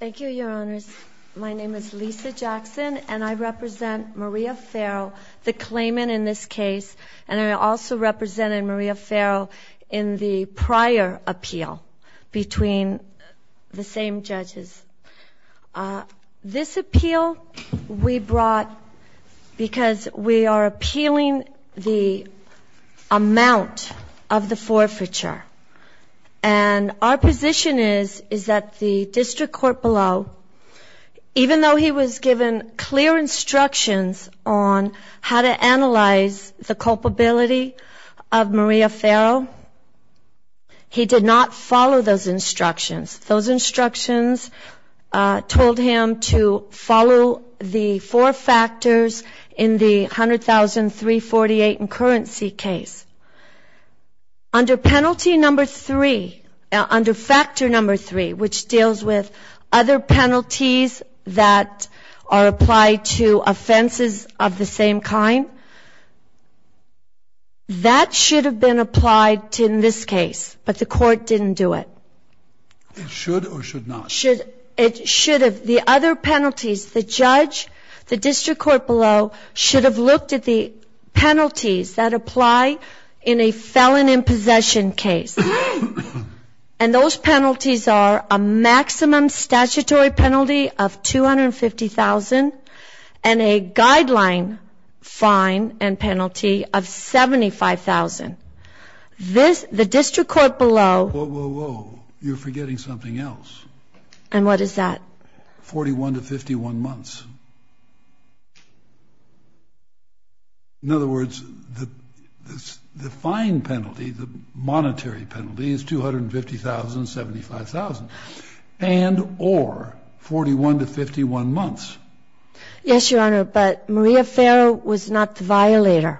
Thank you, your honors. My name is Lisa Jackson, and I represent Maria Ferro, the claimant in this case, and I also represented Maria Ferro in the prior appeal between the same judges. This appeal we brought because we are appealing the amount of the forfeiture, and our position is that the district court below, even though he was given clear instructions on how to analyze the culpability of Maria Ferro, he did not follow those instructions. Those instructions told him to follow the four factors in the $100,348 in currency case. Under penalty number three, under factor number three, which deals with other penalties that are applied to offenses of the same kind, that should have been applied in this case, but the court didn't do it. It should or should not? It should have. The other penalties, the judge, the district court below, should have looked at the penalties that apply in a felon in possession case, and those penalties are a maximum statutory penalty of $250,000 and a guideline fine and penalty of $75,000. The district court below... Whoa, whoa, whoa. You're forgetting something else. And what is that? $45,000 or $41,000 to 51 months. In other words, the fine penalty, the monetary penalty, is $250,000, $75,000, and or $41,000 to 51 months. Yes, Your Honor, but Maria Ferro was not the violator.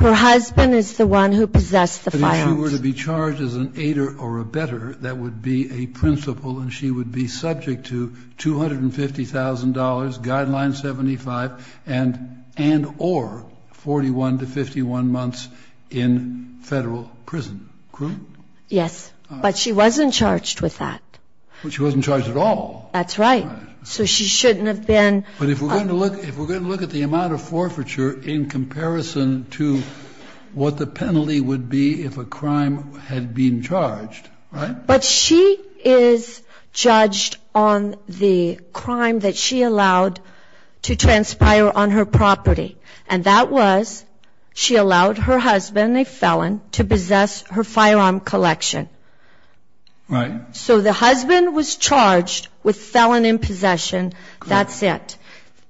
Her husband is the one who possessed the filings. But if she were to be charged as an aider or a better, that would be a principle and she would be subject to $250,000, guideline 75, and and or 41 to 51 months in Federal prison, correct? Yes. But she wasn't charged with that. But she wasn't charged at all. That's right. So she shouldn't have been. But if we're going to look at the amount of forfeiture in comparison to what the penalty would be if a crime had been charged, right? But she is judged on the crime that she allowed to transpire on her property, and that was she allowed her husband, a felon, to possess her firearm collection. Right. So the husband was charged with felon in possession. That's it.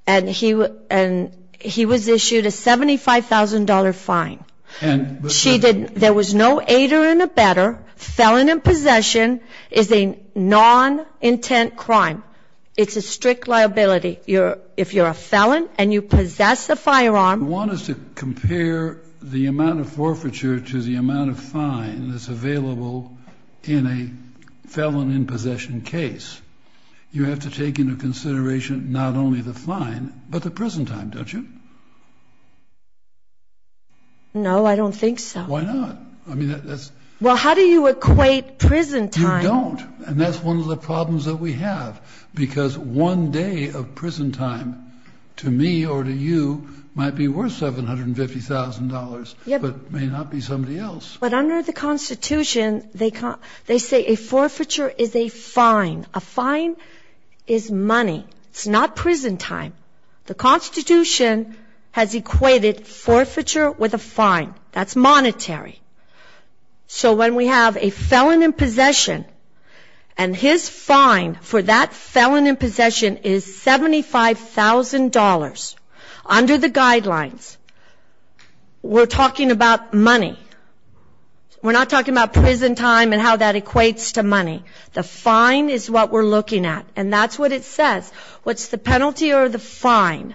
And he was issued a $75,000 fine. And she didn't, there was no aider and a better. Felon in possession is a non-intent crime. It's a strict liability. If you're a felon and you possess a firearm. You want us to compare the amount of forfeiture to the amount of fine that's available in a felon in possession case. You have to take into consideration not only the fine, but the prison time, don't you? No, I don't think so. Why not? Well, how do you equate prison time? You don't. And that's one of the problems that we have. Because one day of prison time, to me or to you, might be worth $750,000, but may not be somebody else. But under the Constitution, they say a forfeiture is a fine. A fine is money. It's not prison time. The Constitution has equated forfeiture with a fine. That's monetary. So when we have a felon in possession, and his fine for that felon in possession is $75,000, under the guidelines, we're talking about money. We're not talking about prison time and how that equates to money. The fine is what we're looking at. And that's what it says. What's the penalty or the fine?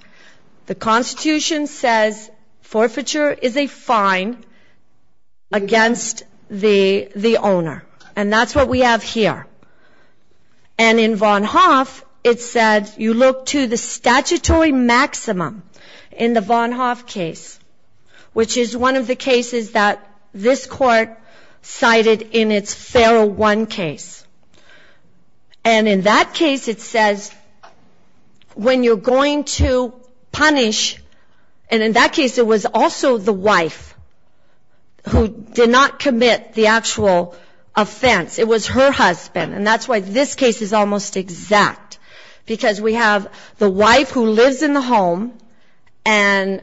The Constitution says forfeiture is a fine against the owner. And that's what we have here. And in Von Hoff, it said you look to the statutory maximum in the Von Hoff case, which is one of the cases that this Court cited in its Feral 1 case. And in that case, it says when you're going to punish, and in that case, it was also the wife who did not commit the actual offense. It was her husband, and that's why this case is almost exact, because we have the wife who lives in the home, and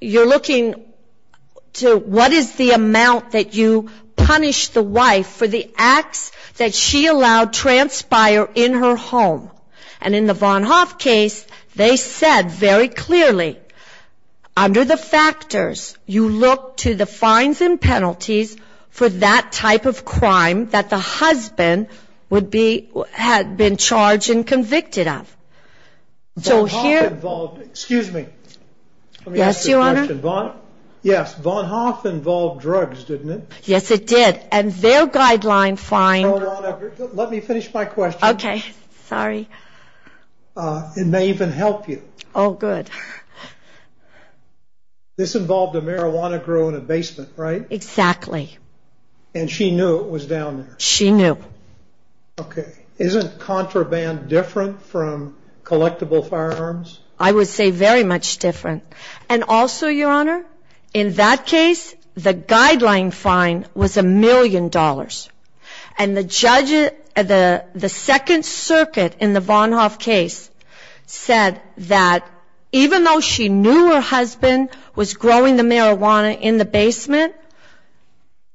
you're looking to what is the amount that you punish the wife for the acts that she allowed transpire in her home. And in the Von Hoff case, they said very clearly, under the factors, you look to the fines and penalties for that type of crime that the husband had been charged and convicted of. Excuse me. Yes, Your Honor. Yes, Von Hoff involved drugs, didn't it? Yes, it did. And their guideline fine. Let me finish my question. Okay. Sorry. It may even help you. Oh, good. This involved a marijuana grow in a basement, right? Exactly. And she knew it was down there. She knew. Okay. Isn't contraband different from collectible firearms? I would say very much different. And also, Your Honor, in that case, the guideline fine was a million dollars. And the second circuit in the Von Hoff case said that even though she knew her husband was growing the marijuana in the basement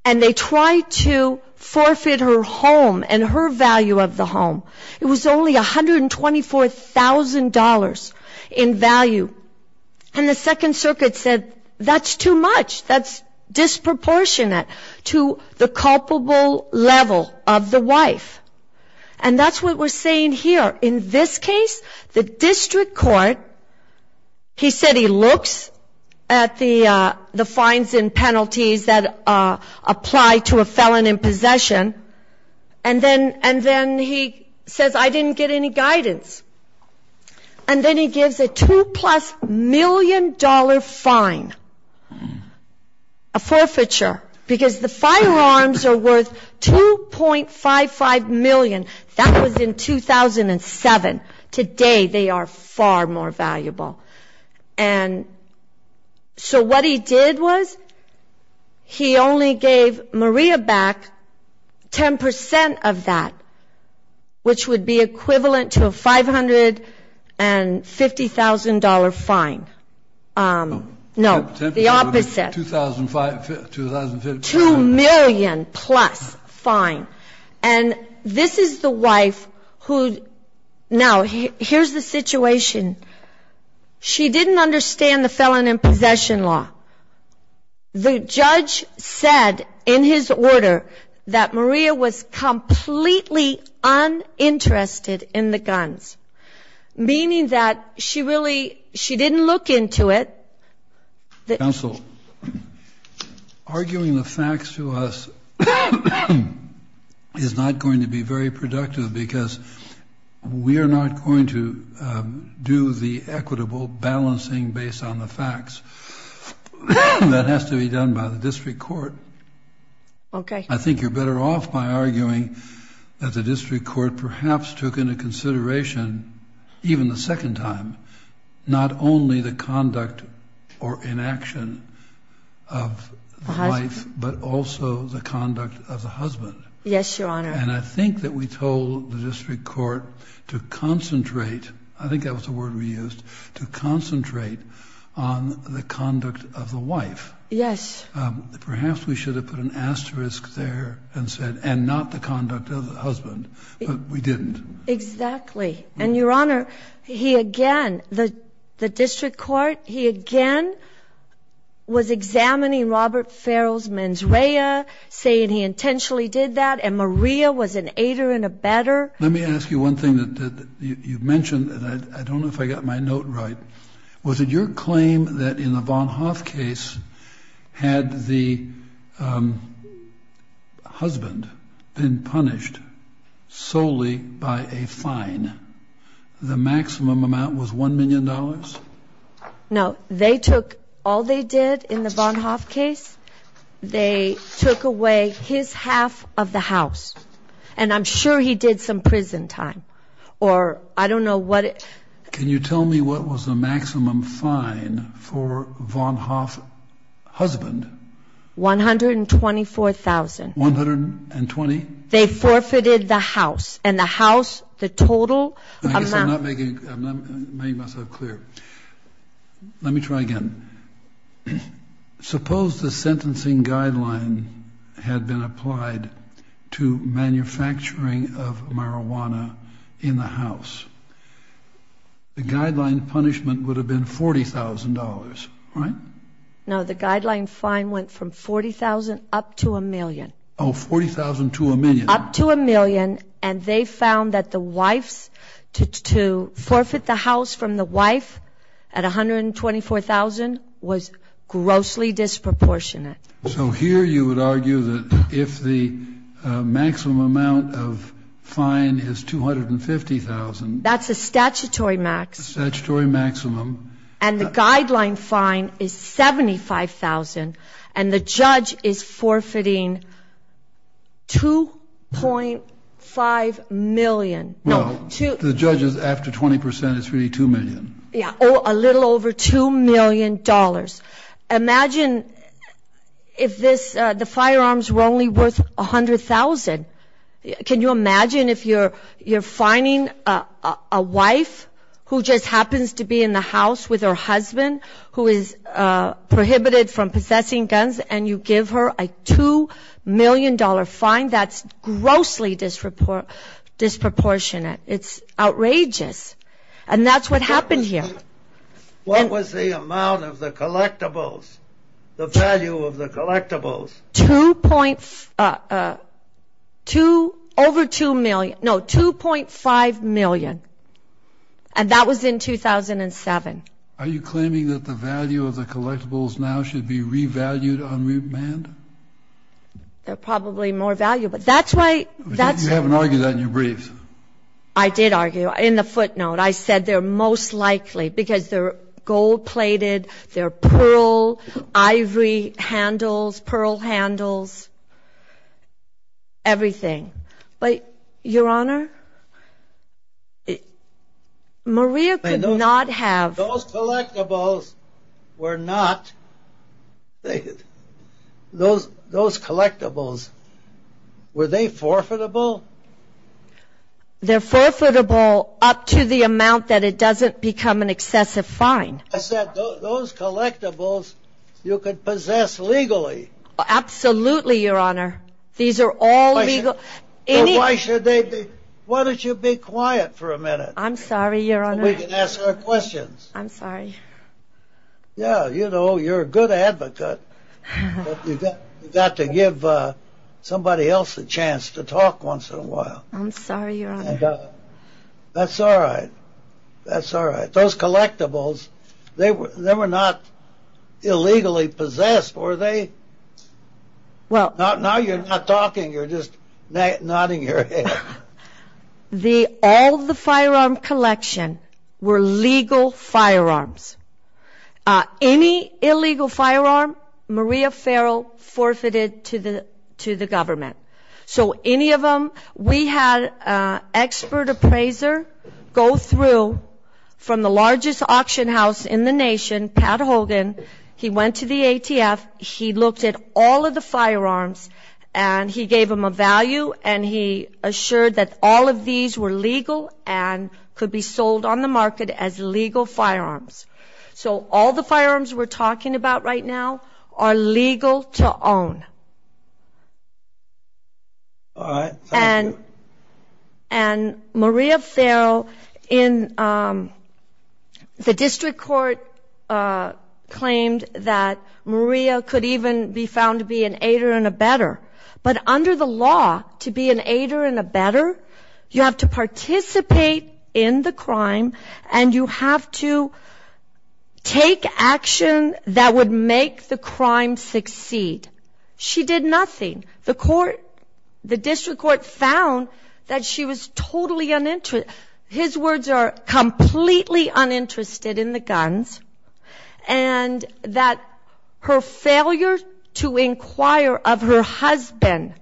and they tried to forfeit her home and her value of the home, it was only $124,000 in value. And the second circuit said that's too much. That's disproportionate to the culpable level of the wife. And that's what we're saying here. In this case, the district court, he said he looks at the fines and penalties that apply to a felon in possession, and then he says, I didn't get any guidance. And then he gives a two-plus-million-dollar fine, a forfeiture, because the firearms are worth $2.55 million. That was in 2007. Today they are far more valuable. And so what he did was he only gave Maria back 10% of that, which would be equivalent to a $550,000 fine. No, the opposite. $2,500,000. $2 million-plus fine. And this is the wife who now here's the situation. She didn't understand the felon in possession law. The judge said in his order that Maria was completely uninterested in the guns, meaning that she really, she didn't look into it. Counsel, arguing the facts to us is not going to be very productive, because we are not going to do the equitable balancing based on the facts. That has to be done by the district court. Okay. I think you're better off by arguing that the district court perhaps took into consideration, even the second time, not only the conduct or inaction of the wife, but also the conduct of the husband. Yes, Your Honor. And I think that we told the district court to concentrate, I think that was the word we used, to concentrate on the conduct of the wife. Yes. Perhaps we should have put an asterisk there and said, and not the conduct of the husband, but we didn't. Exactly. And, Your Honor, he again, the district court, he again was examining Robert Farrell's mens rea, saying he intentionally did that, and Maria was an aider and a better. Let me ask you one thing that you mentioned, and I don't know if I got my note right, was it your claim that in the Von Hoff case, had the husband been punished solely by a fine, the maximum amount was $1 million? No. They took all they did in the Von Hoff case, they took away his half of the house, and I'm sure he did some prison time, or I don't know what. Can you tell me what was the maximum fine for Von Hoff's husband? $124,000. $120,000? They forfeited the house, and the house, the total amount. I guess I'm not making myself clear. Let me try again. Suppose the sentencing guideline had been applied to manufacturing of marijuana in the house. The guideline punishment would have been $40,000, right? No, the guideline fine went from $40,000 up to $1 million. Oh, $40,000 to $1 million. And they found that the wife's, to forfeit the house from the wife at $124,000 was grossly disproportionate. So here you would argue that if the maximum amount of fine is $250,000. That's a statutory max. Statutory maximum. And the guideline fine is $75,000, and the judge is forfeiting $2.5 million. Well, the judge is after 20%. It's really $2 million. Yeah, a little over $2 million. Imagine if the firearms were only worth $100,000. Can you imagine if you're fining a wife who just happens to be in the house with her husband, who is prohibited from possessing guns, and you give her a $2 million fine? That's grossly disproportionate. It's outrageous. And that's what happened here. What was the amount of the collectibles, the value of the collectibles? Over $2 million. No, $2.5 million. And that was in 2007. Are you claiming that the value of the collectibles now should be revalued on remand? They're probably more valuable. That's why you haven't argued that in your brief. I did argue. In the footnote, I said they're most likely because they're gold-plated, they're pearl, ivory handles, pearl handles, everything. But, Your Honor, Maria could not have. Those collectibles were not. Those collectibles, were they forfeitable? They're forfeitable up to the amount that it doesn't become an excessive fine. I said those collectibles you could possess legally. Absolutely, Your Honor. These are all legal. Why should they be? Why don't you be quiet for a minute? I'm sorry, Your Honor. So we can ask our questions. I'm sorry. Yeah, you know, you're a good advocate, but you've got to give somebody else a chance to talk once in a while. I'm sorry, Your Honor. That's all right. That's all right. But those collectibles, they were not illegally possessed, were they? Now you're not talking, you're just nodding your head. All of the firearm collection were legal firearms. Any illegal firearm, Maria Farrell forfeited to the government. So any of them, we had an expert appraiser go through from the largest auction house in the nation, Pat Hogan. He went to the ATF. He looked at all of the firearms, and he gave them a value, and he assured that all of these were legal and could be sold on the market as legal firearms. So all the firearms we're talking about right now are legal to own. All right. Thank you. And Maria Farrell in the district court claimed that Maria could even be found to be an aider and a better. But under the law, to be an aider and a better, you have to participate in the crime, and you have to take action that would make the crime succeed. She did nothing. The court, the district court found that she was totally uninterested. His words are completely uninterested in the guns, and that her failure to inquire of her husband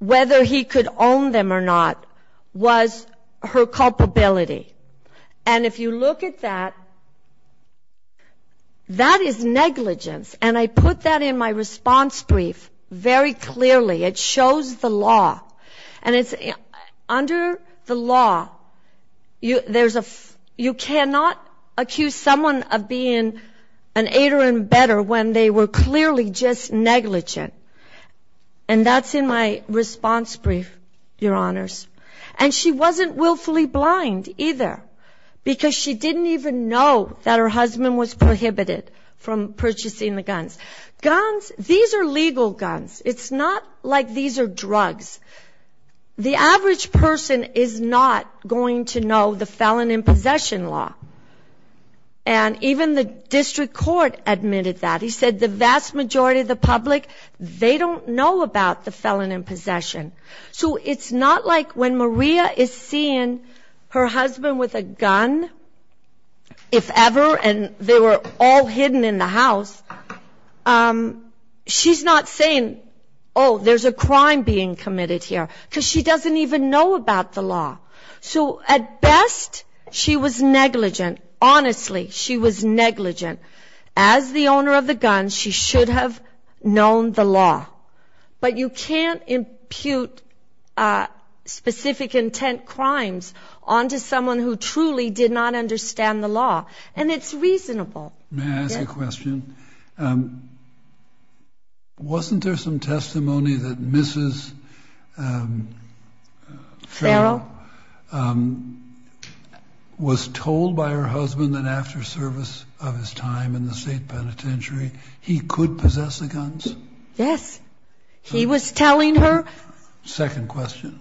whether he could own them or not was her culpability. And if you look at that, that is negligence. And I put that in my response brief very clearly. It shows the law. And under the law, you cannot accuse someone of being an aider and better when they were clearly just negligent. And that's in my response brief, Your Honors. And she wasn't willfully blind either, because she didn't even know that her husband was prohibited from purchasing the guns. Guns, these are legal guns. It's not like these are drugs. The average person is not going to know the felon in possession law. And even the district court admitted that. He said the vast majority of the public, they don't know about the felon in possession. So it's not like when Maria is seeing her husband with a gun, if ever, and they were all hidden in the house, she's not saying, oh, there's a crime being committed here, because she doesn't even know about the law. So at best, she was negligent. Honestly, she was negligent. As the owner of the guns, she should have known the law. But you can't impute specific intent crimes onto someone who truly did not understand the law. And it's reasonable. May I ask a question? Wasn't there some testimony that Mrs. Farrell was told by her husband that after service of his time in the state penitentiary, he could possess the guns? Yes. He was telling her. Second question.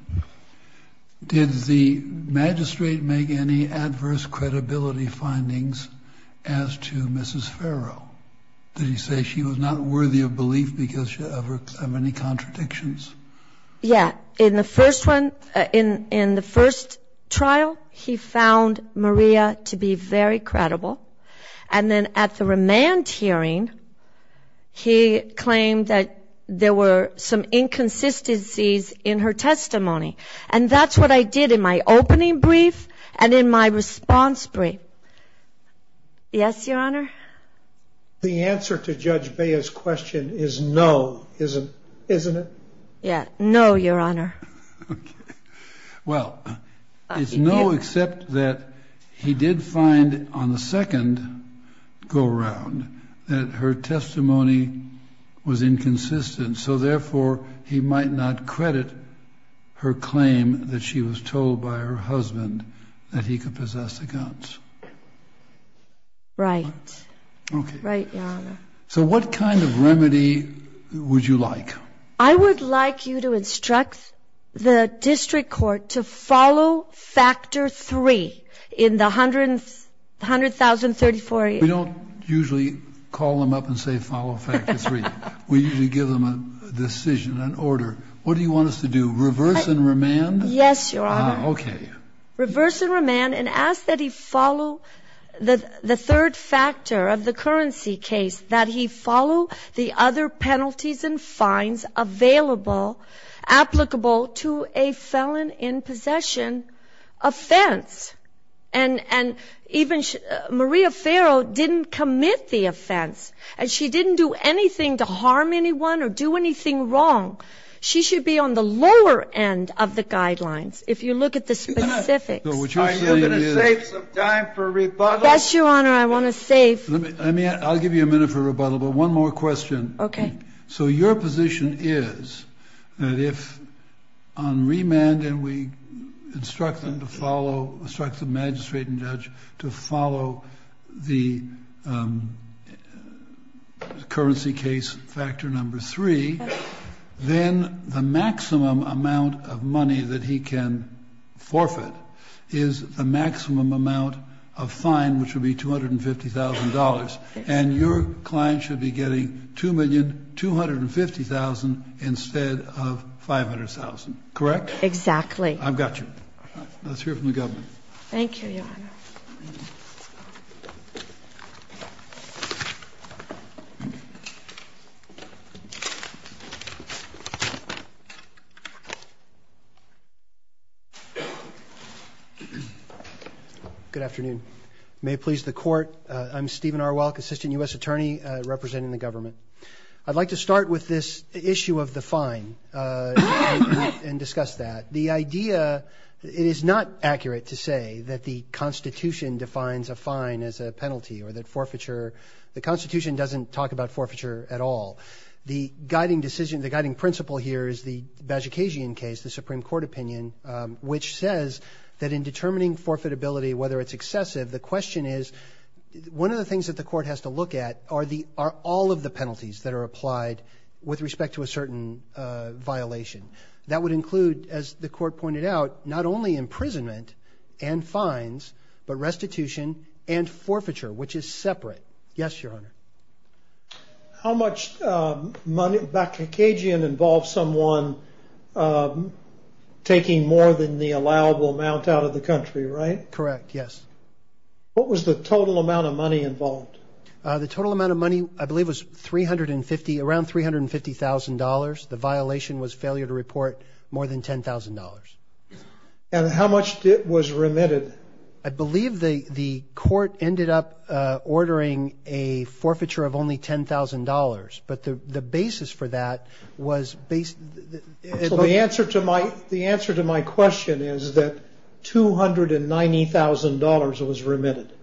Did the magistrate make any adverse credibility findings as to Mrs. Farrell? Did he say she was not worthy of belief because of any contradictions? Yeah. In the first trial, he found Maria to be very credible. And then at the remand hearing, he claimed that there were some inconsistencies in her testimony. And that's what I did in my opening brief and in my response brief. Yes, Your Honor? The answer to Judge Bea's question is no, isn't it? Yeah, no, Your Honor. Okay. Well, it's no except that he did find on the second go-around that her testimony was inconsistent. So, therefore, he might not credit her claim that she was told by her husband that he could possess the guns. Right. Okay. Right, Your Honor. So what kind of remedy would you like? I would like you to instruct the district court to follow factor three in the 100,034. We don't usually call them up and say follow factor three. We usually give them a decision, an order. What do you want us to do, reverse and remand? Yes, Your Honor. Okay. Reverse and remand and ask that he follow the third factor of the currency case, that he follow the other penalties and fines available, applicable to a felon in possession offense. And even Maria Farrow didn't commit the offense, and she didn't do anything to harm anyone or do anything wrong. She should be on the lower end of the guidelines, if you look at the specifics. Are you going to save some time for rebuttal? Yes, Your Honor, I want to save. I'll give you a minute for rebuttal, but one more question. Okay. So your position is that if on remand and we instruct them to follow, instruct the magistrate and judge to follow the currency case factor number three, then the maximum amount of money that he can forfeit is the maximum amount of fine, which would be $250,000. And your client should be getting $2,250,000 instead of $500,000, correct? Exactly. I've got you. Let's hear from the government. Thank you, Your Honor. Thank you. Good afternoon. May it please the Court, I'm Stephen Arwelk, Assistant U.S. Attorney representing the government. I'd like to start with this issue of the fine and discuss that. The idea, it is not accurate to say that the Constitution defines a fine as a penalty or that forfeiture, the Constitution doesn't talk about forfeiture at all. The guiding decision, the guiding principle here is the Bajikasian case, the Supreme Court opinion, which says that in determining forfeitability, whether it's excessive, the question is one of the things that the Court has to look at are all of the penalties that are applied with respect to a certain violation. That would include, as the Court pointed out, not only imprisonment and fines, but restitution and forfeiture, which is separate. Yes, Your Honor. How much money, Bajikasian involves someone taking more than the allowable amount out of the country, right? Correct, yes. What was the total amount of money involved? The total amount of money, I believe, was 350, around $350,000. The violation was failure to report more than $10,000. And how much was remitted? I believe the Court ended up ordering a forfeiture of only $10,000. But the basis for that was based – So the answer to my question is that $290,000 was remitted.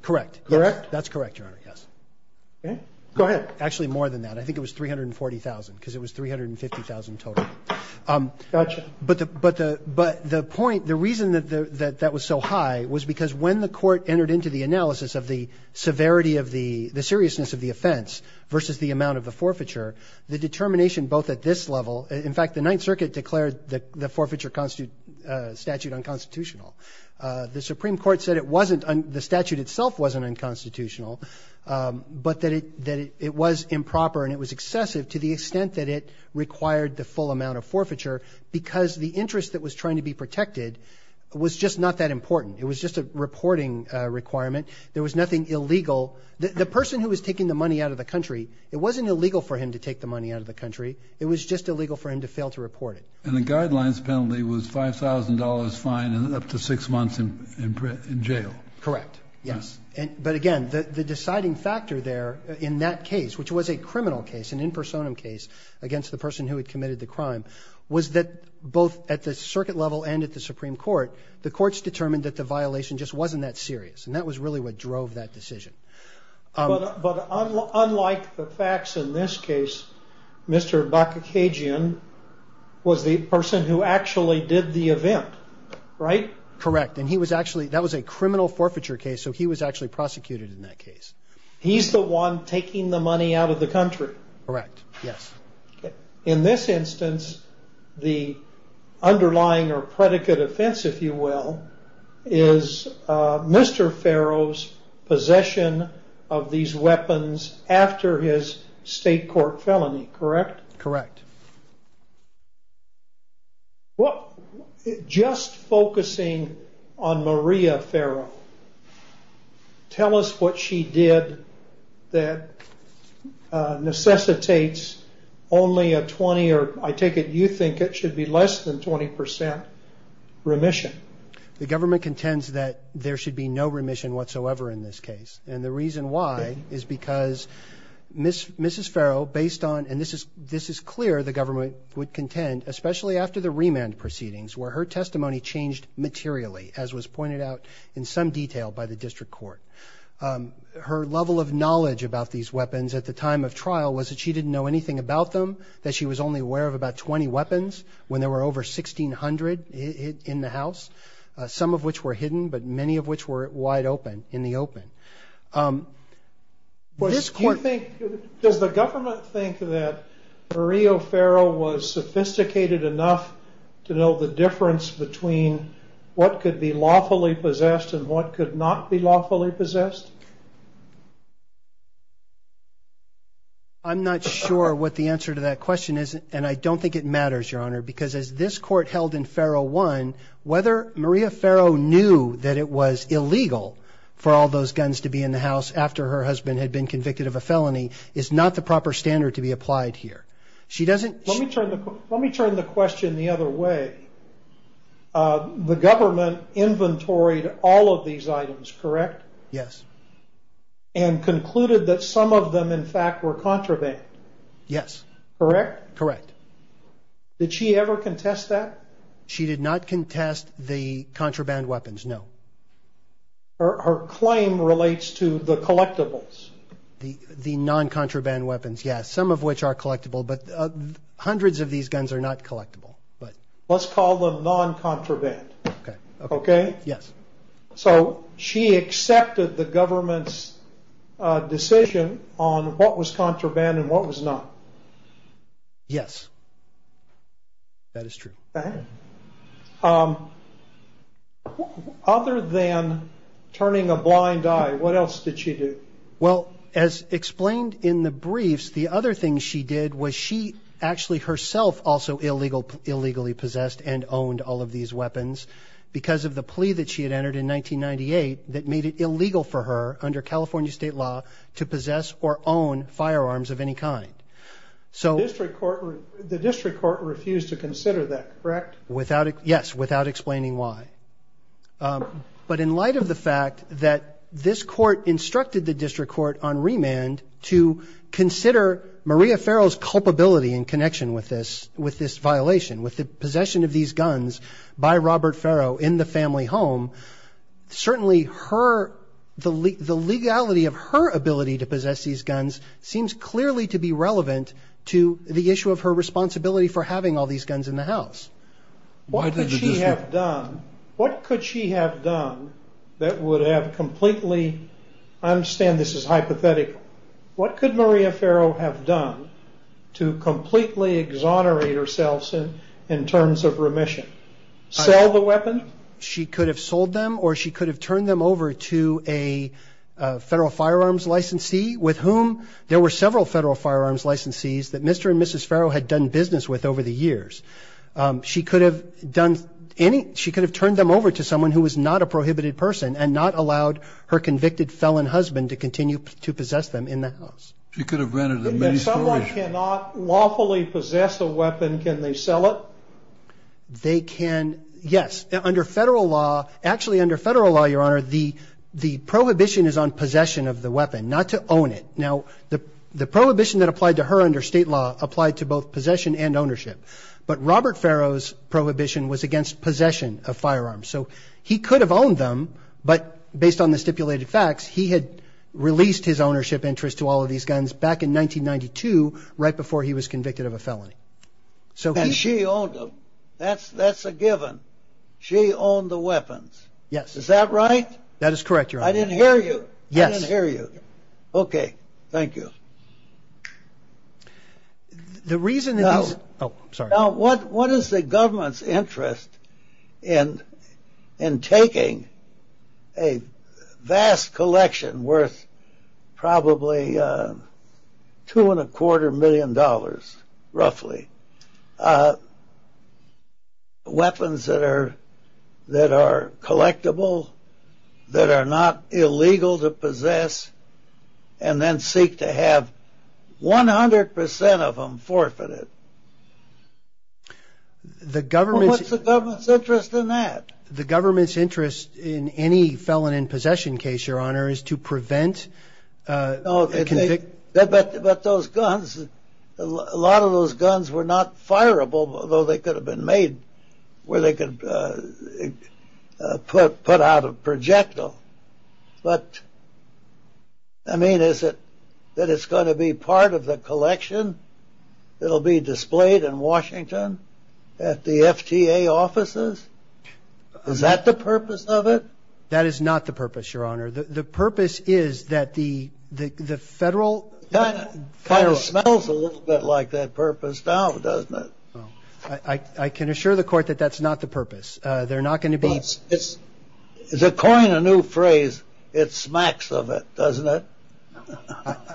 Correct, yes. Correct? That's correct, Your Honor, yes. Okay. Go ahead. Actually, more than that. I think it was $340,000, because it was $350,000 total. Gotcha. But the point – the reason that that was so high was because when the Court entered into the analysis of the severity of the – the seriousness of the offense versus the amount of the forfeiture, the determination both at this level – in fact, the Ninth Circuit declared the forfeiture statute unconstitutional. The Supreme Court said it wasn't – the statute itself wasn't unconstitutional, but that it was improper and it was excessive to the extent that it required the full amount of forfeiture because the interest that was trying to be protected was just not that important. It was just a reporting requirement. There was nothing illegal. The person who was taking the money out of the country, it wasn't illegal for him to take the money out of the country. It was just illegal for him to fail to report it. And the guidelines penalty was $5,000 fine and up to six months in jail. Correct, yes. But, again, the deciding factor there in that case, which was a criminal case, an in personam case against the person who had committed the crime, was that both at the circuit level and at the Supreme Court, the courts determined that the violation just wasn't that serious. And that was really what drove that decision. But unlike the facts in this case, Mr. Bakakagian was the person who actually did the event, right? Correct, and he was actually – that was a criminal forfeiture case, so he was actually prosecuted in that case. He's the one taking the money out of the country? Correct, yes. In this instance, the underlying or predicate offense, if you will, is Mr. Farrow's possession of these weapons after his state court felony, correct? Correct. Just focusing on Maria Farrow, tell us what she did that necessitates only a 20 or I take it you think it should be less than 20% remission. The government contends that there should be no remission whatsoever in this case. And the reason why is because Mrs. Farrow, based on – this is clear the government would contend, especially after the remand proceedings, where her testimony changed materially, as was pointed out in some detail by the district court. Her level of knowledge about these weapons at the time of trial was that she didn't know anything about them, that she was only aware of about 20 weapons when there were over 1,600 in the house, some of which were hidden, but many of which were wide open in the open. Does the government think that Maria Farrow was sophisticated enough to know the difference between what could be lawfully possessed and what could not be lawfully possessed? I'm not sure what the answer to that question is, and I don't think it matters, Your Honor, because as this court held in Farrow 1, whether Maria Farrow knew that it was illegal for all those guns to be in the house after her husband had been convicted of a felony is not the proper standard to be applied here. Let me turn the question the other way. The government inventoried all of these items, correct? And concluded that some of them, in fact, were contraband. Yes. Correct? Correct. Did she ever contest that? She did not contest the contraband weapons, no. Her claim relates to the collectibles. The non-contraband weapons, yes, some of which are collectible, but hundreds of these guns are not collectible. Let's call them non-contraband. Okay. Okay? Yes. So she accepted the government's decision on what was contraband and what was not? Yes, that is true. Okay. Other than turning a blind eye, what else did she do? Well, as explained in the briefs, the other thing she did was she actually herself also illegally possessed and owned all of these weapons because of the plea that she had entered in 1998 that made it illegal for her, under California state law, to possess or own firearms of any kind. The district court refused to consider that, correct? Yes, without explaining why. But in light of the fact that this court instructed the district court on remand to consider Maria Farrell's culpability in connection with this violation, with the possession of these guns by Robert Farrell in the family home, certainly the legality of her ability to possess these guns seems clearly to be relevant to the issue of her responsibility for having all these guns in the house. What could she have done that would have completely, I understand this is hypothetical, what could Maria Farrell have done to completely exonerate herself in terms of remission? Sell the weapon? She could have sold them or she could have turned them over to a federal firearms licensee with whom there were several federal firearms licensees that Mr. and Mrs. Farrell had done business with over the years. She could have done any, she could have turned them over to someone who was not a prohibited person and not allowed her convicted felon husband to continue to possess them in the house. She could have rented them. If someone cannot lawfully possess a weapon, can they sell it? They can, yes. Under federal law, actually under federal law, Your Honor, the prohibition is on possession of the weapon, not to own it. Now, the prohibition that applied to her under state law applied to both possession and ownership. But Robert Farrell's prohibition was against possession of firearms. So he could have owned them, but based on the stipulated facts, he had released his ownership interest to all of these guns back in 1992 right before he was convicted of a felony. And she owned them. That's a given. She owned the weapons. Yes. Is that right? That is correct, Your Honor. I didn't hear you. I didn't hear you. Okay. Thank you. Now, what is the government's interest in taking a vast collection worth probably $2.25 million roughly, weapons that are collectible, that are not illegal to possess, and then seek to have 100% of them forfeited? What's the government's interest in that? The government's interest in any felon in possession case, Your Honor, is to prevent conviction. But those guns, a lot of those guns were not fireable, although they could have been made where they could put out a projectile. But, I mean, is it that it's going to be part of the collection that will be displayed in Washington at the FTA offices? Is that the purpose of it? That is not the purpose, Your Honor. The purpose is that the federal kind of ---- It kind of smells a little bit like that purpose now, doesn't it? I can assure the Court that that's not the purpose. They're not going to be ---- But it's, to coin a new phrase, it smacks of it, doesn't it?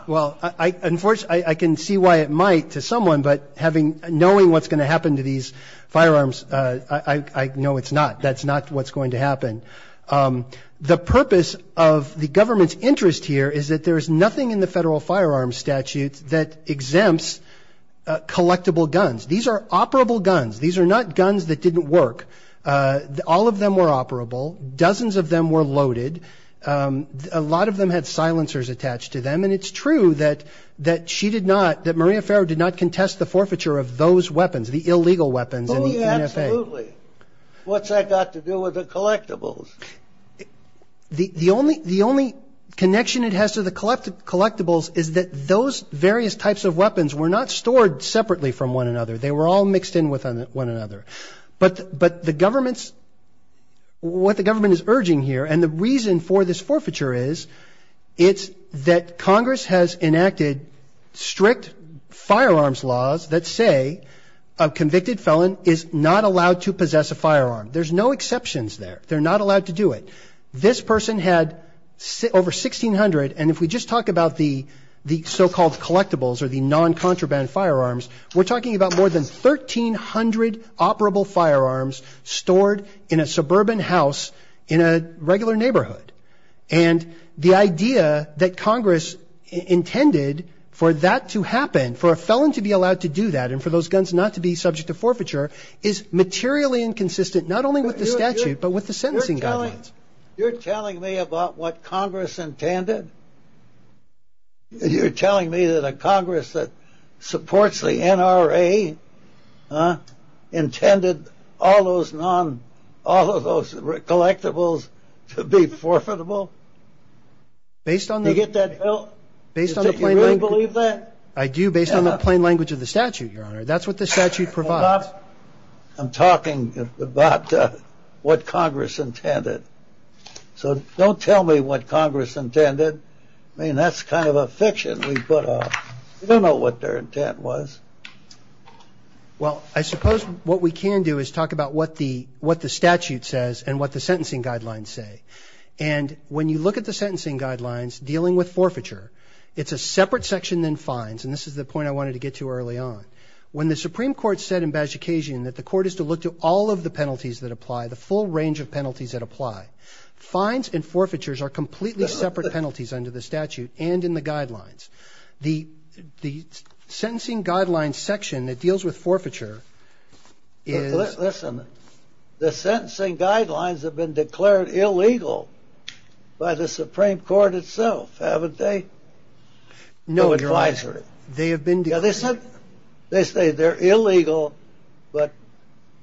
Well, unfortunately, I can see why it might to someone, but knowing what's going to happen to these firearms, I know it's not. That's not what's going to happen. The purpose of the government's interest here is that there is nothing in the federal firearms statute that exempts collectible guns. These are operable guns. These are not guns that didn't work. All of them were operable. Dozens of them were loaded. A lot of them had silencers attached to them, and it's true that she did not, that Maria Farrow did not contest the forfeiture of those weapons, the illegal weapons in the NFA. Absolutely. What's that got to do with the collectibles? The only connection it has to the collectibles is that those various types of weapons were not stored separately from one another. They were all mixed in with one another. But the government's, what the government is urging here, and the reason for this forfeiture is, it's that Congress has enacted strict firearms laws that say a convicted felon is not allowed to possess a firearm. There's no exceptions there. They're not allowed to do it. This person had over 1,600, and if we just talk about the so-called collectibles or the non-contraband firearms, we're talking about more than 1,300 operable firearms stored in a suburban house in a regular neighborhood. And the idea that Congress intended for that to happen, for a felon to be allowed to do that and for those guns not to be subject to forfeiture is materially inconsistent, not only with the statute, but with the sentencing guidelines. You're telling me about what Congress intended? You're telling me that a Congress that supports the NRA intended all those collectibles to be forfeitable? Do you get that, Phil? Do you really believe that? I do, based on the plain language of the statute, Your Honor. That's what the statute provides. I'm talking about what Congress intended. So don't tell me what Congress intended. I mean, that's kind of a fiction we put on. We don't know what their intent was. Well, I suppose what we can do is talk about what the statute says and what the sentencing guidelines say. And when you look at the sentencing guidelines dealing with forfeiture, it's a separate section than fines, and this is the point I wanted to get to early on. When the Supreme Court said in Bajikistan that the court is to look to all of the penalties that apply, the full range of penalties that apply, fines and forfeitures are completely separate penalties under the statute and in the guidelines. The sentencing guidelines section that deals with forfeiture is – Listen. The sentencing guidelines have been declared illegal by the Supreme Court itself, haven't they? No, Your Honor. They have been declared illegal. They say they're illegal, but,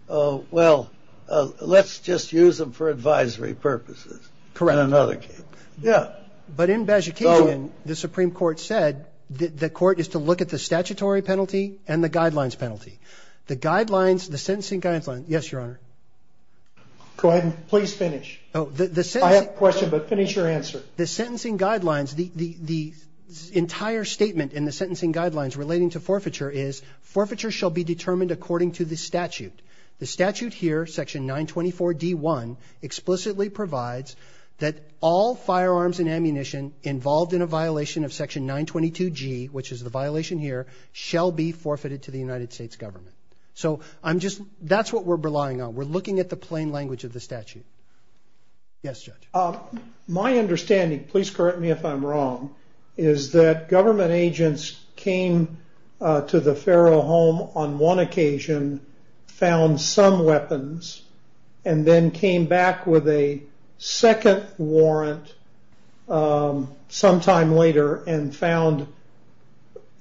well, let's just use them for advisory purposes. Correct. In another case. Yeah. But in Bajikistan, the Supreme Court said the court is to look at the statutory penalty and the guidelines penalty. The guidelines, the sentencing guidelines – yes, Your Honor. Go ahead and please finish. I have a question, but finish your answer. The sentencing guidelines, the entire statement in the sentencing guidelines relating to forfeiture is forfeiture shall be determined according to the statute. The statute here, section 924D1, explicitly provides that all firearms and ammunition involved in a violation of section 922G, which is the violation here, shall be forfeited to the United States government. So I'm just – that's what we're relying on. We're looking at the plain language of the statute. Yes, Judge. My understanding – please correct me if I'm wrong – is that government agents came to the Faro home on one occasion, found some weapons, and then came back with a second warrant sometime later and found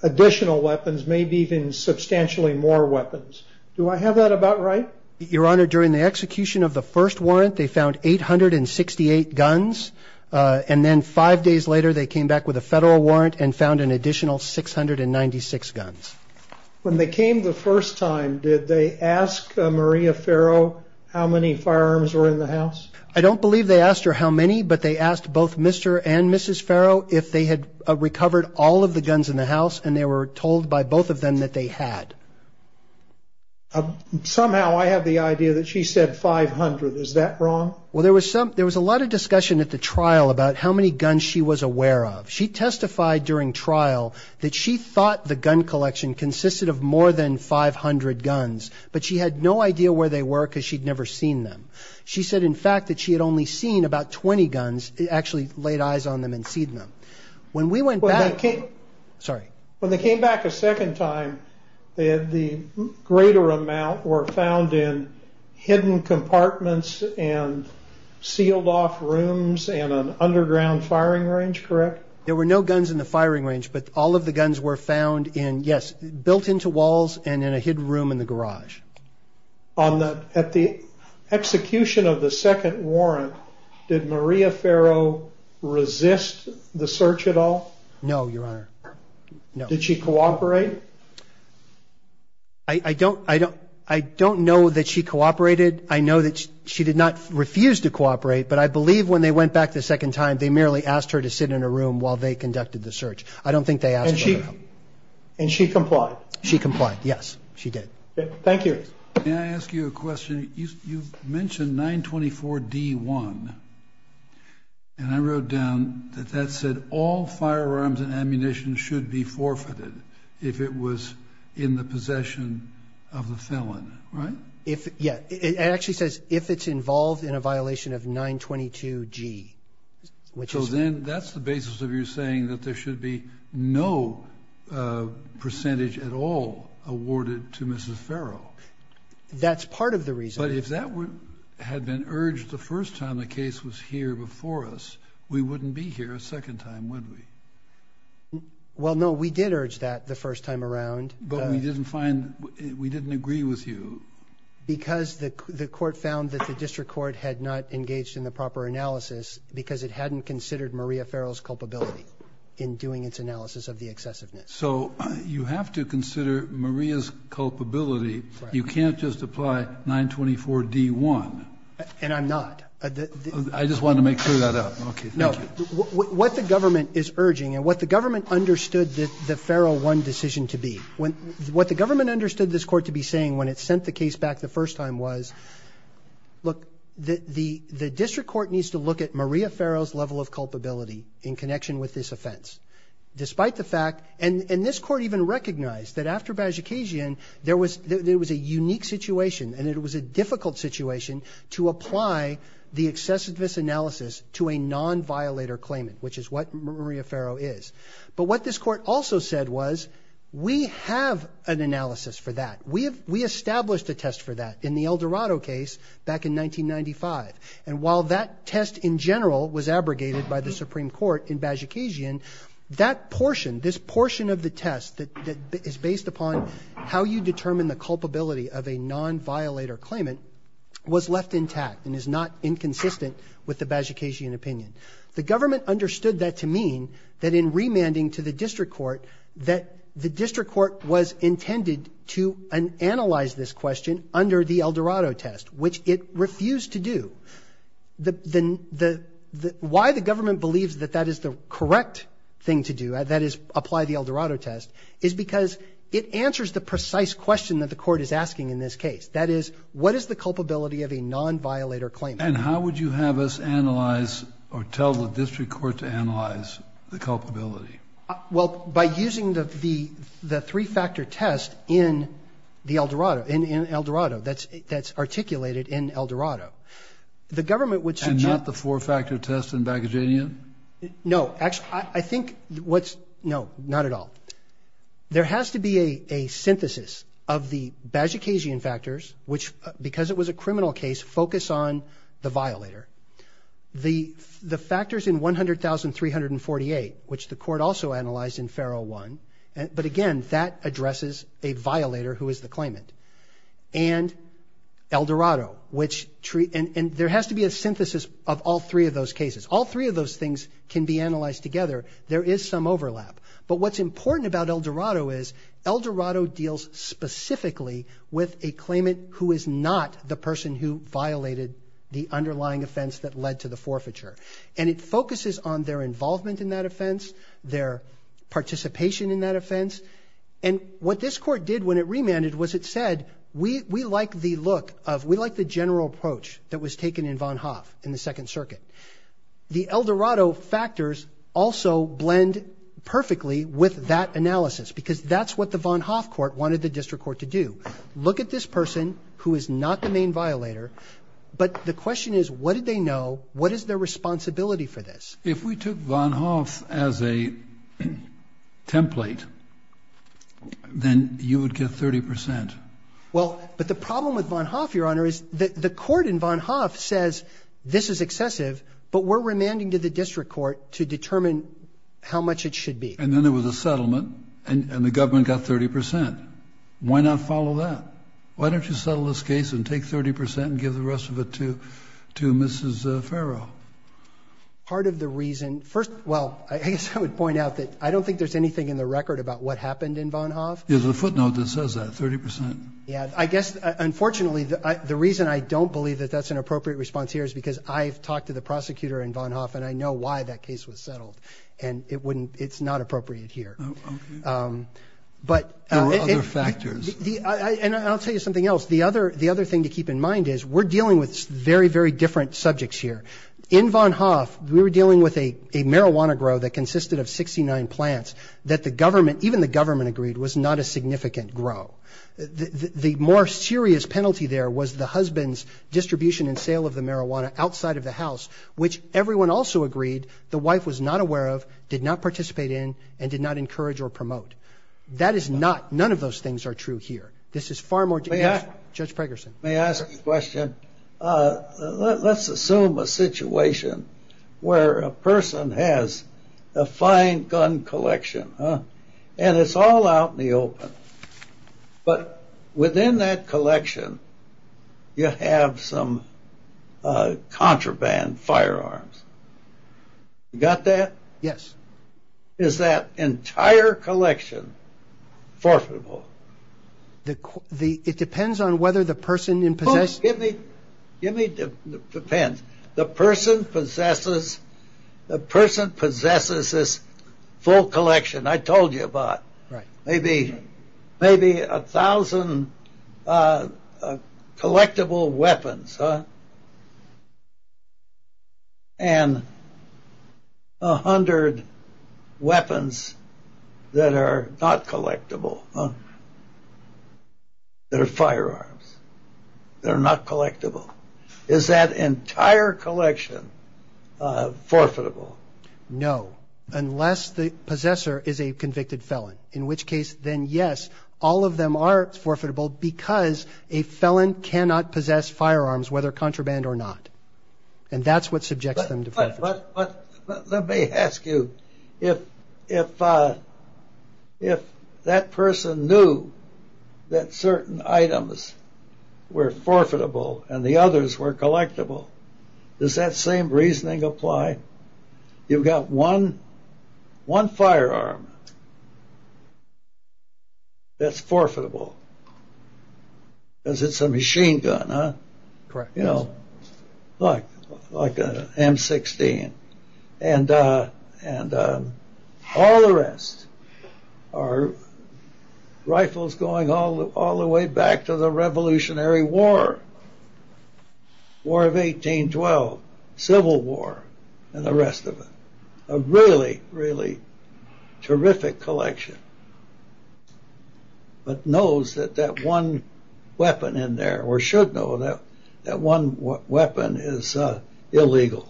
additional weapons, maybe even substantially more weapons. Do I have that about right? Your Honor, during the execution of the first warrant, they found 868 guns, and then five days later they came back with a federal warrant and found an additional 696 guns. When they came the first time, did they ask Maria Faro how many firearms were in the house? I don't believe they asked her how many, but they asked both Mr. and Mrs. Faro if they had recovered all of the guns in the house, and they were told by both of them that they had. Somehow I have the idea that she said 500. Is that wrong? Well, there was a lot of discussion at the trial about how many guns she was aware of. She testified during trial that she thought the gun collection consisted of more than 500 guns, but she had no idea where they were because she'd never seen them. She said, in fact, that she had only seen about 20 guns, actually laid eyes on them and seen them. When they came back a second time, the greater amount were found in hidden compartments and sealed off rooms and an underground firing range, correct? There were no guns in the firing range, but all of the guns were found in, yes, built into walls and in a hidden room in the garage. At the execution of the second warrant, did Maria Faro resist the search at all? No, Your Honor, no. Did she cooperate? I don't know that she cooperated. I know that she did not refuse to cooperate, but I believe when they went back the second time, they merely asked her to sit in a room while they conducted the search. I don't think they asked her. And she complied? She complied, yes, she did. Thank you. May I ask you a question? You mentioned 924-D1, and I wrote down that that said all firearms and ammunition should be forfeited if it was in the possession of the felon, right? Yeah, it actually says if it's involved in a violation of 922-G, which is what? And then that's the basis of your saying that there should be no percentage at all awarded to Mrs. Faro. That's part of the reason. But if that had been urged the first time the case was here before us, we wouldn't be here a second time, would we? Well, no, we did urge that the first time around. But we didn't find we didn't agree with you. Because the court found that the district court had not engaged in the proper analysis because it hadn't considered Maria Faro's culpability in doing its analysis of the excessiveness. So you have to consider Maria's culpability. You can't just apply 924-D1. And I'm not. I just wanted to make sure of that. Okay, thank you. No, what the government is urging and what the government understood that the Faro won decision to be, what the government understood this court to be saying when it sent the case back the first time was, look, the district court needs to look at Maria Faro's level of culpability in connection with this offense. Despite the fact, and this court even recognized that after Vazucasian, there was a unique situation, and it was a difficult situation to apply the excessiveness analysis to a non-violator claimant, which is what Maria Faro is. But what this court also said was, we have an analysis for that. We established a test for that in the Eldorado case back in 1995. And while that test in general was abrogated by the Supreme Court in Vazucasian, that portion, this portion of the test that is based upon how you determine the culpability of a non-violator claimant, was left intact and is not inconsistent with the Vazucasian opinion. The government understood that to mean that in remanding to the district court, that the district court was intended to analyze this question under the Eldorado test, which it refused to do. Why the government believes that that is the correct thing to do, that is apply the Eldorado test, is because it answers the precise question that the court is asking in this case. That is, what is the culpability of a non-violator claimant? And how would you have us analyze or tell the district court to analyze the culpability? Well, by using the three-factor test in the Eldorado, in Eldorado, that's articulated in Eldorado. The government would suggest And not the four-factor test in Vazucasian? No. I think what's no, not at all. There has to be a synthesis of the Vazucasian factors, which because it was a criminal case, focus on the violator. The factors in 100,348, which the court also analyzed in FARO 1, but again, that addresses a violator who is the claimant. And Eldorado, and there has to be a synthesis of all three of those cases. All three of those things can be analyzed together. There is some overlap. But what's important about Eldorado is Eldorado deals specifically with a claimant who is not the person who violated the underlying offense that led to the forfeiture. And it focuses on their involvement in that offense, their participation in that offense. And what this court did when it remanded was it said, we like the look of, we like the general approach that was taken in Von Hoff in the Second Circuit. The Eldorado factors also blend perfectly with that analysis because that's what the Von Hoff Court wanted the district court to do. Look at this person who is not the main violator, but the question is what did they know, what is their responsibility for this? If we took Von Hoff as a template, then you would get 30 percent. The court in Von Hoff says this is excessive, but we're remanding to the district court to determine how much it should be. And then there was a settlement, and the government got 30 percent. Why not follow that? Why don't you settle this case and take 30 percent and give the rest of it to Mrs. Farrow? Part of the reason, first, well, I guess I would point out that I don't think there's anything in the record about what happened in Von Hoff. There's a footnote that says that, 30 percent. Yeah, I guess, unfortunately, the reason I don't believe that that's an appropriate response here is because I've talked to the prosecutor in Von Hoff, and I know why that case was settled. And it's not appropriate here. Oh, okay. There were other factors. And I'll tell you something else. The other thing to keep in mind is we're dealing with very, very different subjects here. In Von Hoff, we were dealing with a marijuana grow that consisted of 69 plants that the government, the government agreed, was not a significant grow. The more serious penalty there was the husband's distribution and sale of the marijuana outside of the house, which everyone also agreed the wife was not aware of, did not participate in, and did not encourage or promote. That is not, none of those things are true here. This is far more. Judge Pregerson. May I ask a question? Let's assume a situation where a person has a fine gun collection, and it's all out in the open. But within that collection, you have some contraband firearms. You got that? Yes. Is that entire collection forfeitable? It depends on whether the person in possession Give me the pen. The person possesses this full collection I told you about. Maybe a thousand collectible weapons. And a hundred weapons that are not collectible. They're firearms. They're not collectible. Is that entire collection forfeitable? No, unless the possessor is a convicted felon. In which case, then yes, all of them are forfeitable because a felon cannot possess firearms, whether contraband or not. And that's what subjects them to forfeiture. Let me ask you, if that person knew that certain items were forfeitable and the others were collectible, does that same reasoning apply? You've got one firearm that's forfeitable. Because it's a machine gun, huh? Correct. Like an M16. And all the rest are rifles going all the way back to the Revolutionary War. War of 1812. Civil War. And the rest of it. A really, really terrific collection. But knows that that one weapon in there, or should know that, that one weapon is illegal.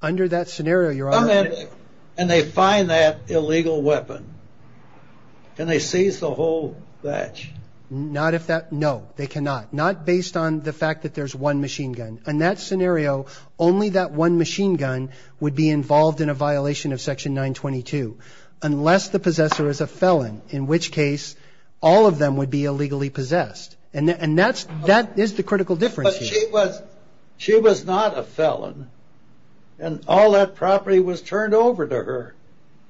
Under that scenario, your honor. And they find that illegal weapon. And they seize the whole batch. Not if that, no, they cannot. Not based on the fact that there's one machine gun. In that scenario, only that one machine gun would be involved in a violation of Section 922. Unless the possessor is a felon. In which case, all of them would be illegally possessed. And that is the critical difference here. But she was not a felon. And all that property was turned over to her.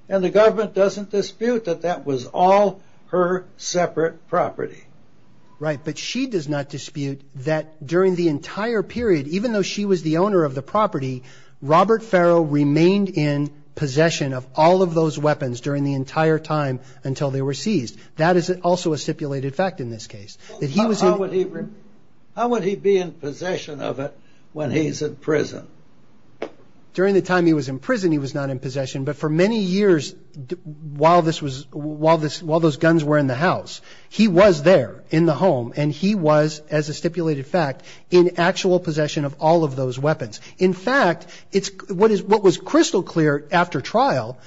And the government doesn't dispute that that was all her separate property. Right. But she does not dispute that during the entire period, even though she was the owner of the property, Robert Farrell remained in possession of all of those weapons during the entire time until they were seized. That is also a stipulated fact in this case. How would he be in possession of it when he's in prison? During the time he was in prison, he was not in possession. But for many years, while those guns were in the house, he was there in the home and he was, as a stipulated fact, in actual possession of all of those weapons. In fact, what was crystal clear after trial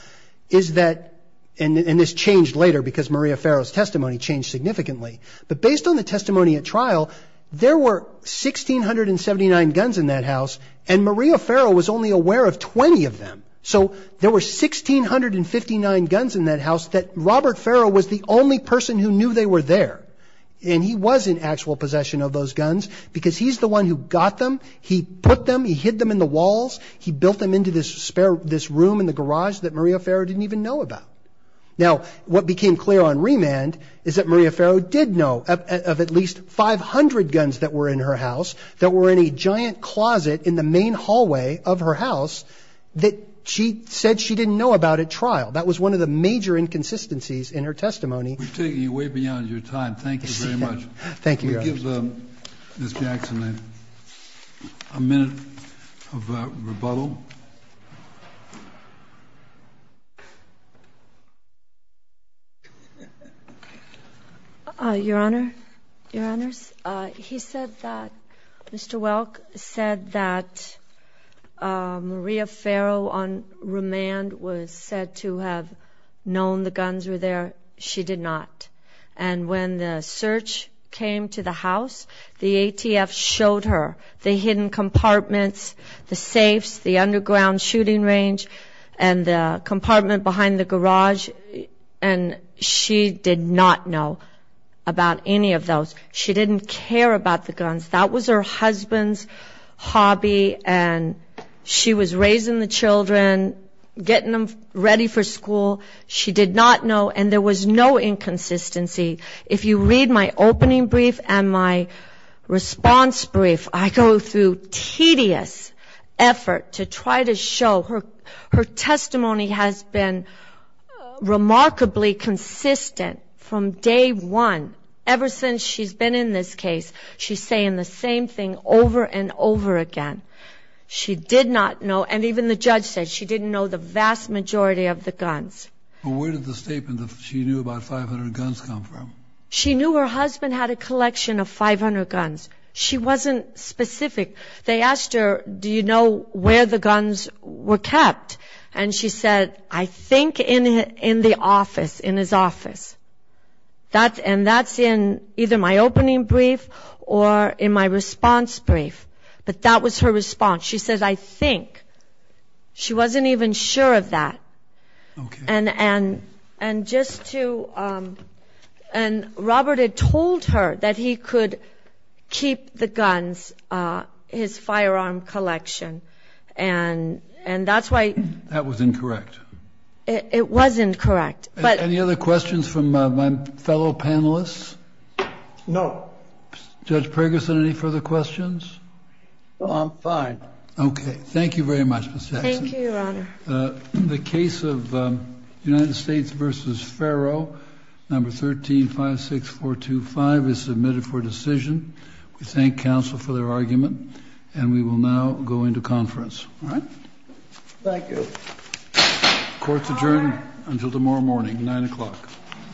is that, and this changed later because Maria Farrell's testimony changed significantly, but based on the testimony at trial, there were 1,679 guns in that house. And Maria Farrell was only aware of 20 of them. So there were 1,659 guns in that house that Robert Farrell was the only person who knew they were there. And he was in actual possession of those guns because he's the one who got them. He put them, he hid them in the walls. He built them into this room in the garage that Maria Farrell didn't even know about. Now, what became clear on remand is that Maria Farrell did know of at least 500 guns that were in her house, that were in a giant closet in the main hallway of her house that she said she didn't know about at trial. That was one of the major inconsistencies in her testimony. We've taken you way beyond your time. Thank you very much. Thank you, Your Honor. Can we give Ms. Jackson a minute of rebuttal? Your Honor, Your Honors, he said that Mr. Welk said that Maria Farrell on remand was said to have known the guns were there. She did not. And when the search came to the house, the ATF showed her the hidden compartments, the safes, the underground shooting range, and the compartment behind the garage, and she did not know about any of those. She didn't care about the guns. That was her husband's hobby, and she was raising the children, getting them ready for school. She did not know, and there was no inconsistency. If you read my opening brief and my response brief, I go through tedious effort to try to show her testimony has been remarkably consistent from day one, ever since she's been in this case. She's saying the same thing over and over again. She did not know, and even the judge said she didn't know the vast majority of the guns. Where did the statement that she knew about 500 guns come from? She knew her husband had a collection of 500 guns. She wasn't specific. They asked her, do you know where the guns were kept? And she said, I think in the office, in his office. And that's in either my opening brief or in my response brief. But that was her response. She says, I think. She wasn't even sure of that. And Robert had told her that he could keep the guns, his firearm collection, and that's why. That was incorrect. It was incorrect. Any other questions from my fellow panelists? No. Judge Pergerson, any further questions? No, I'm fine. Okay. Thank you very much, Ms. Jackson. Thank you, Your Honor. The case of United States v. Farrow, number 13-56425, is submitted for decision. We thank counsel for their argument, and we will now go into conference. All right? Thank you. Court's adjourned until tomorrow morning, 9 o'clock.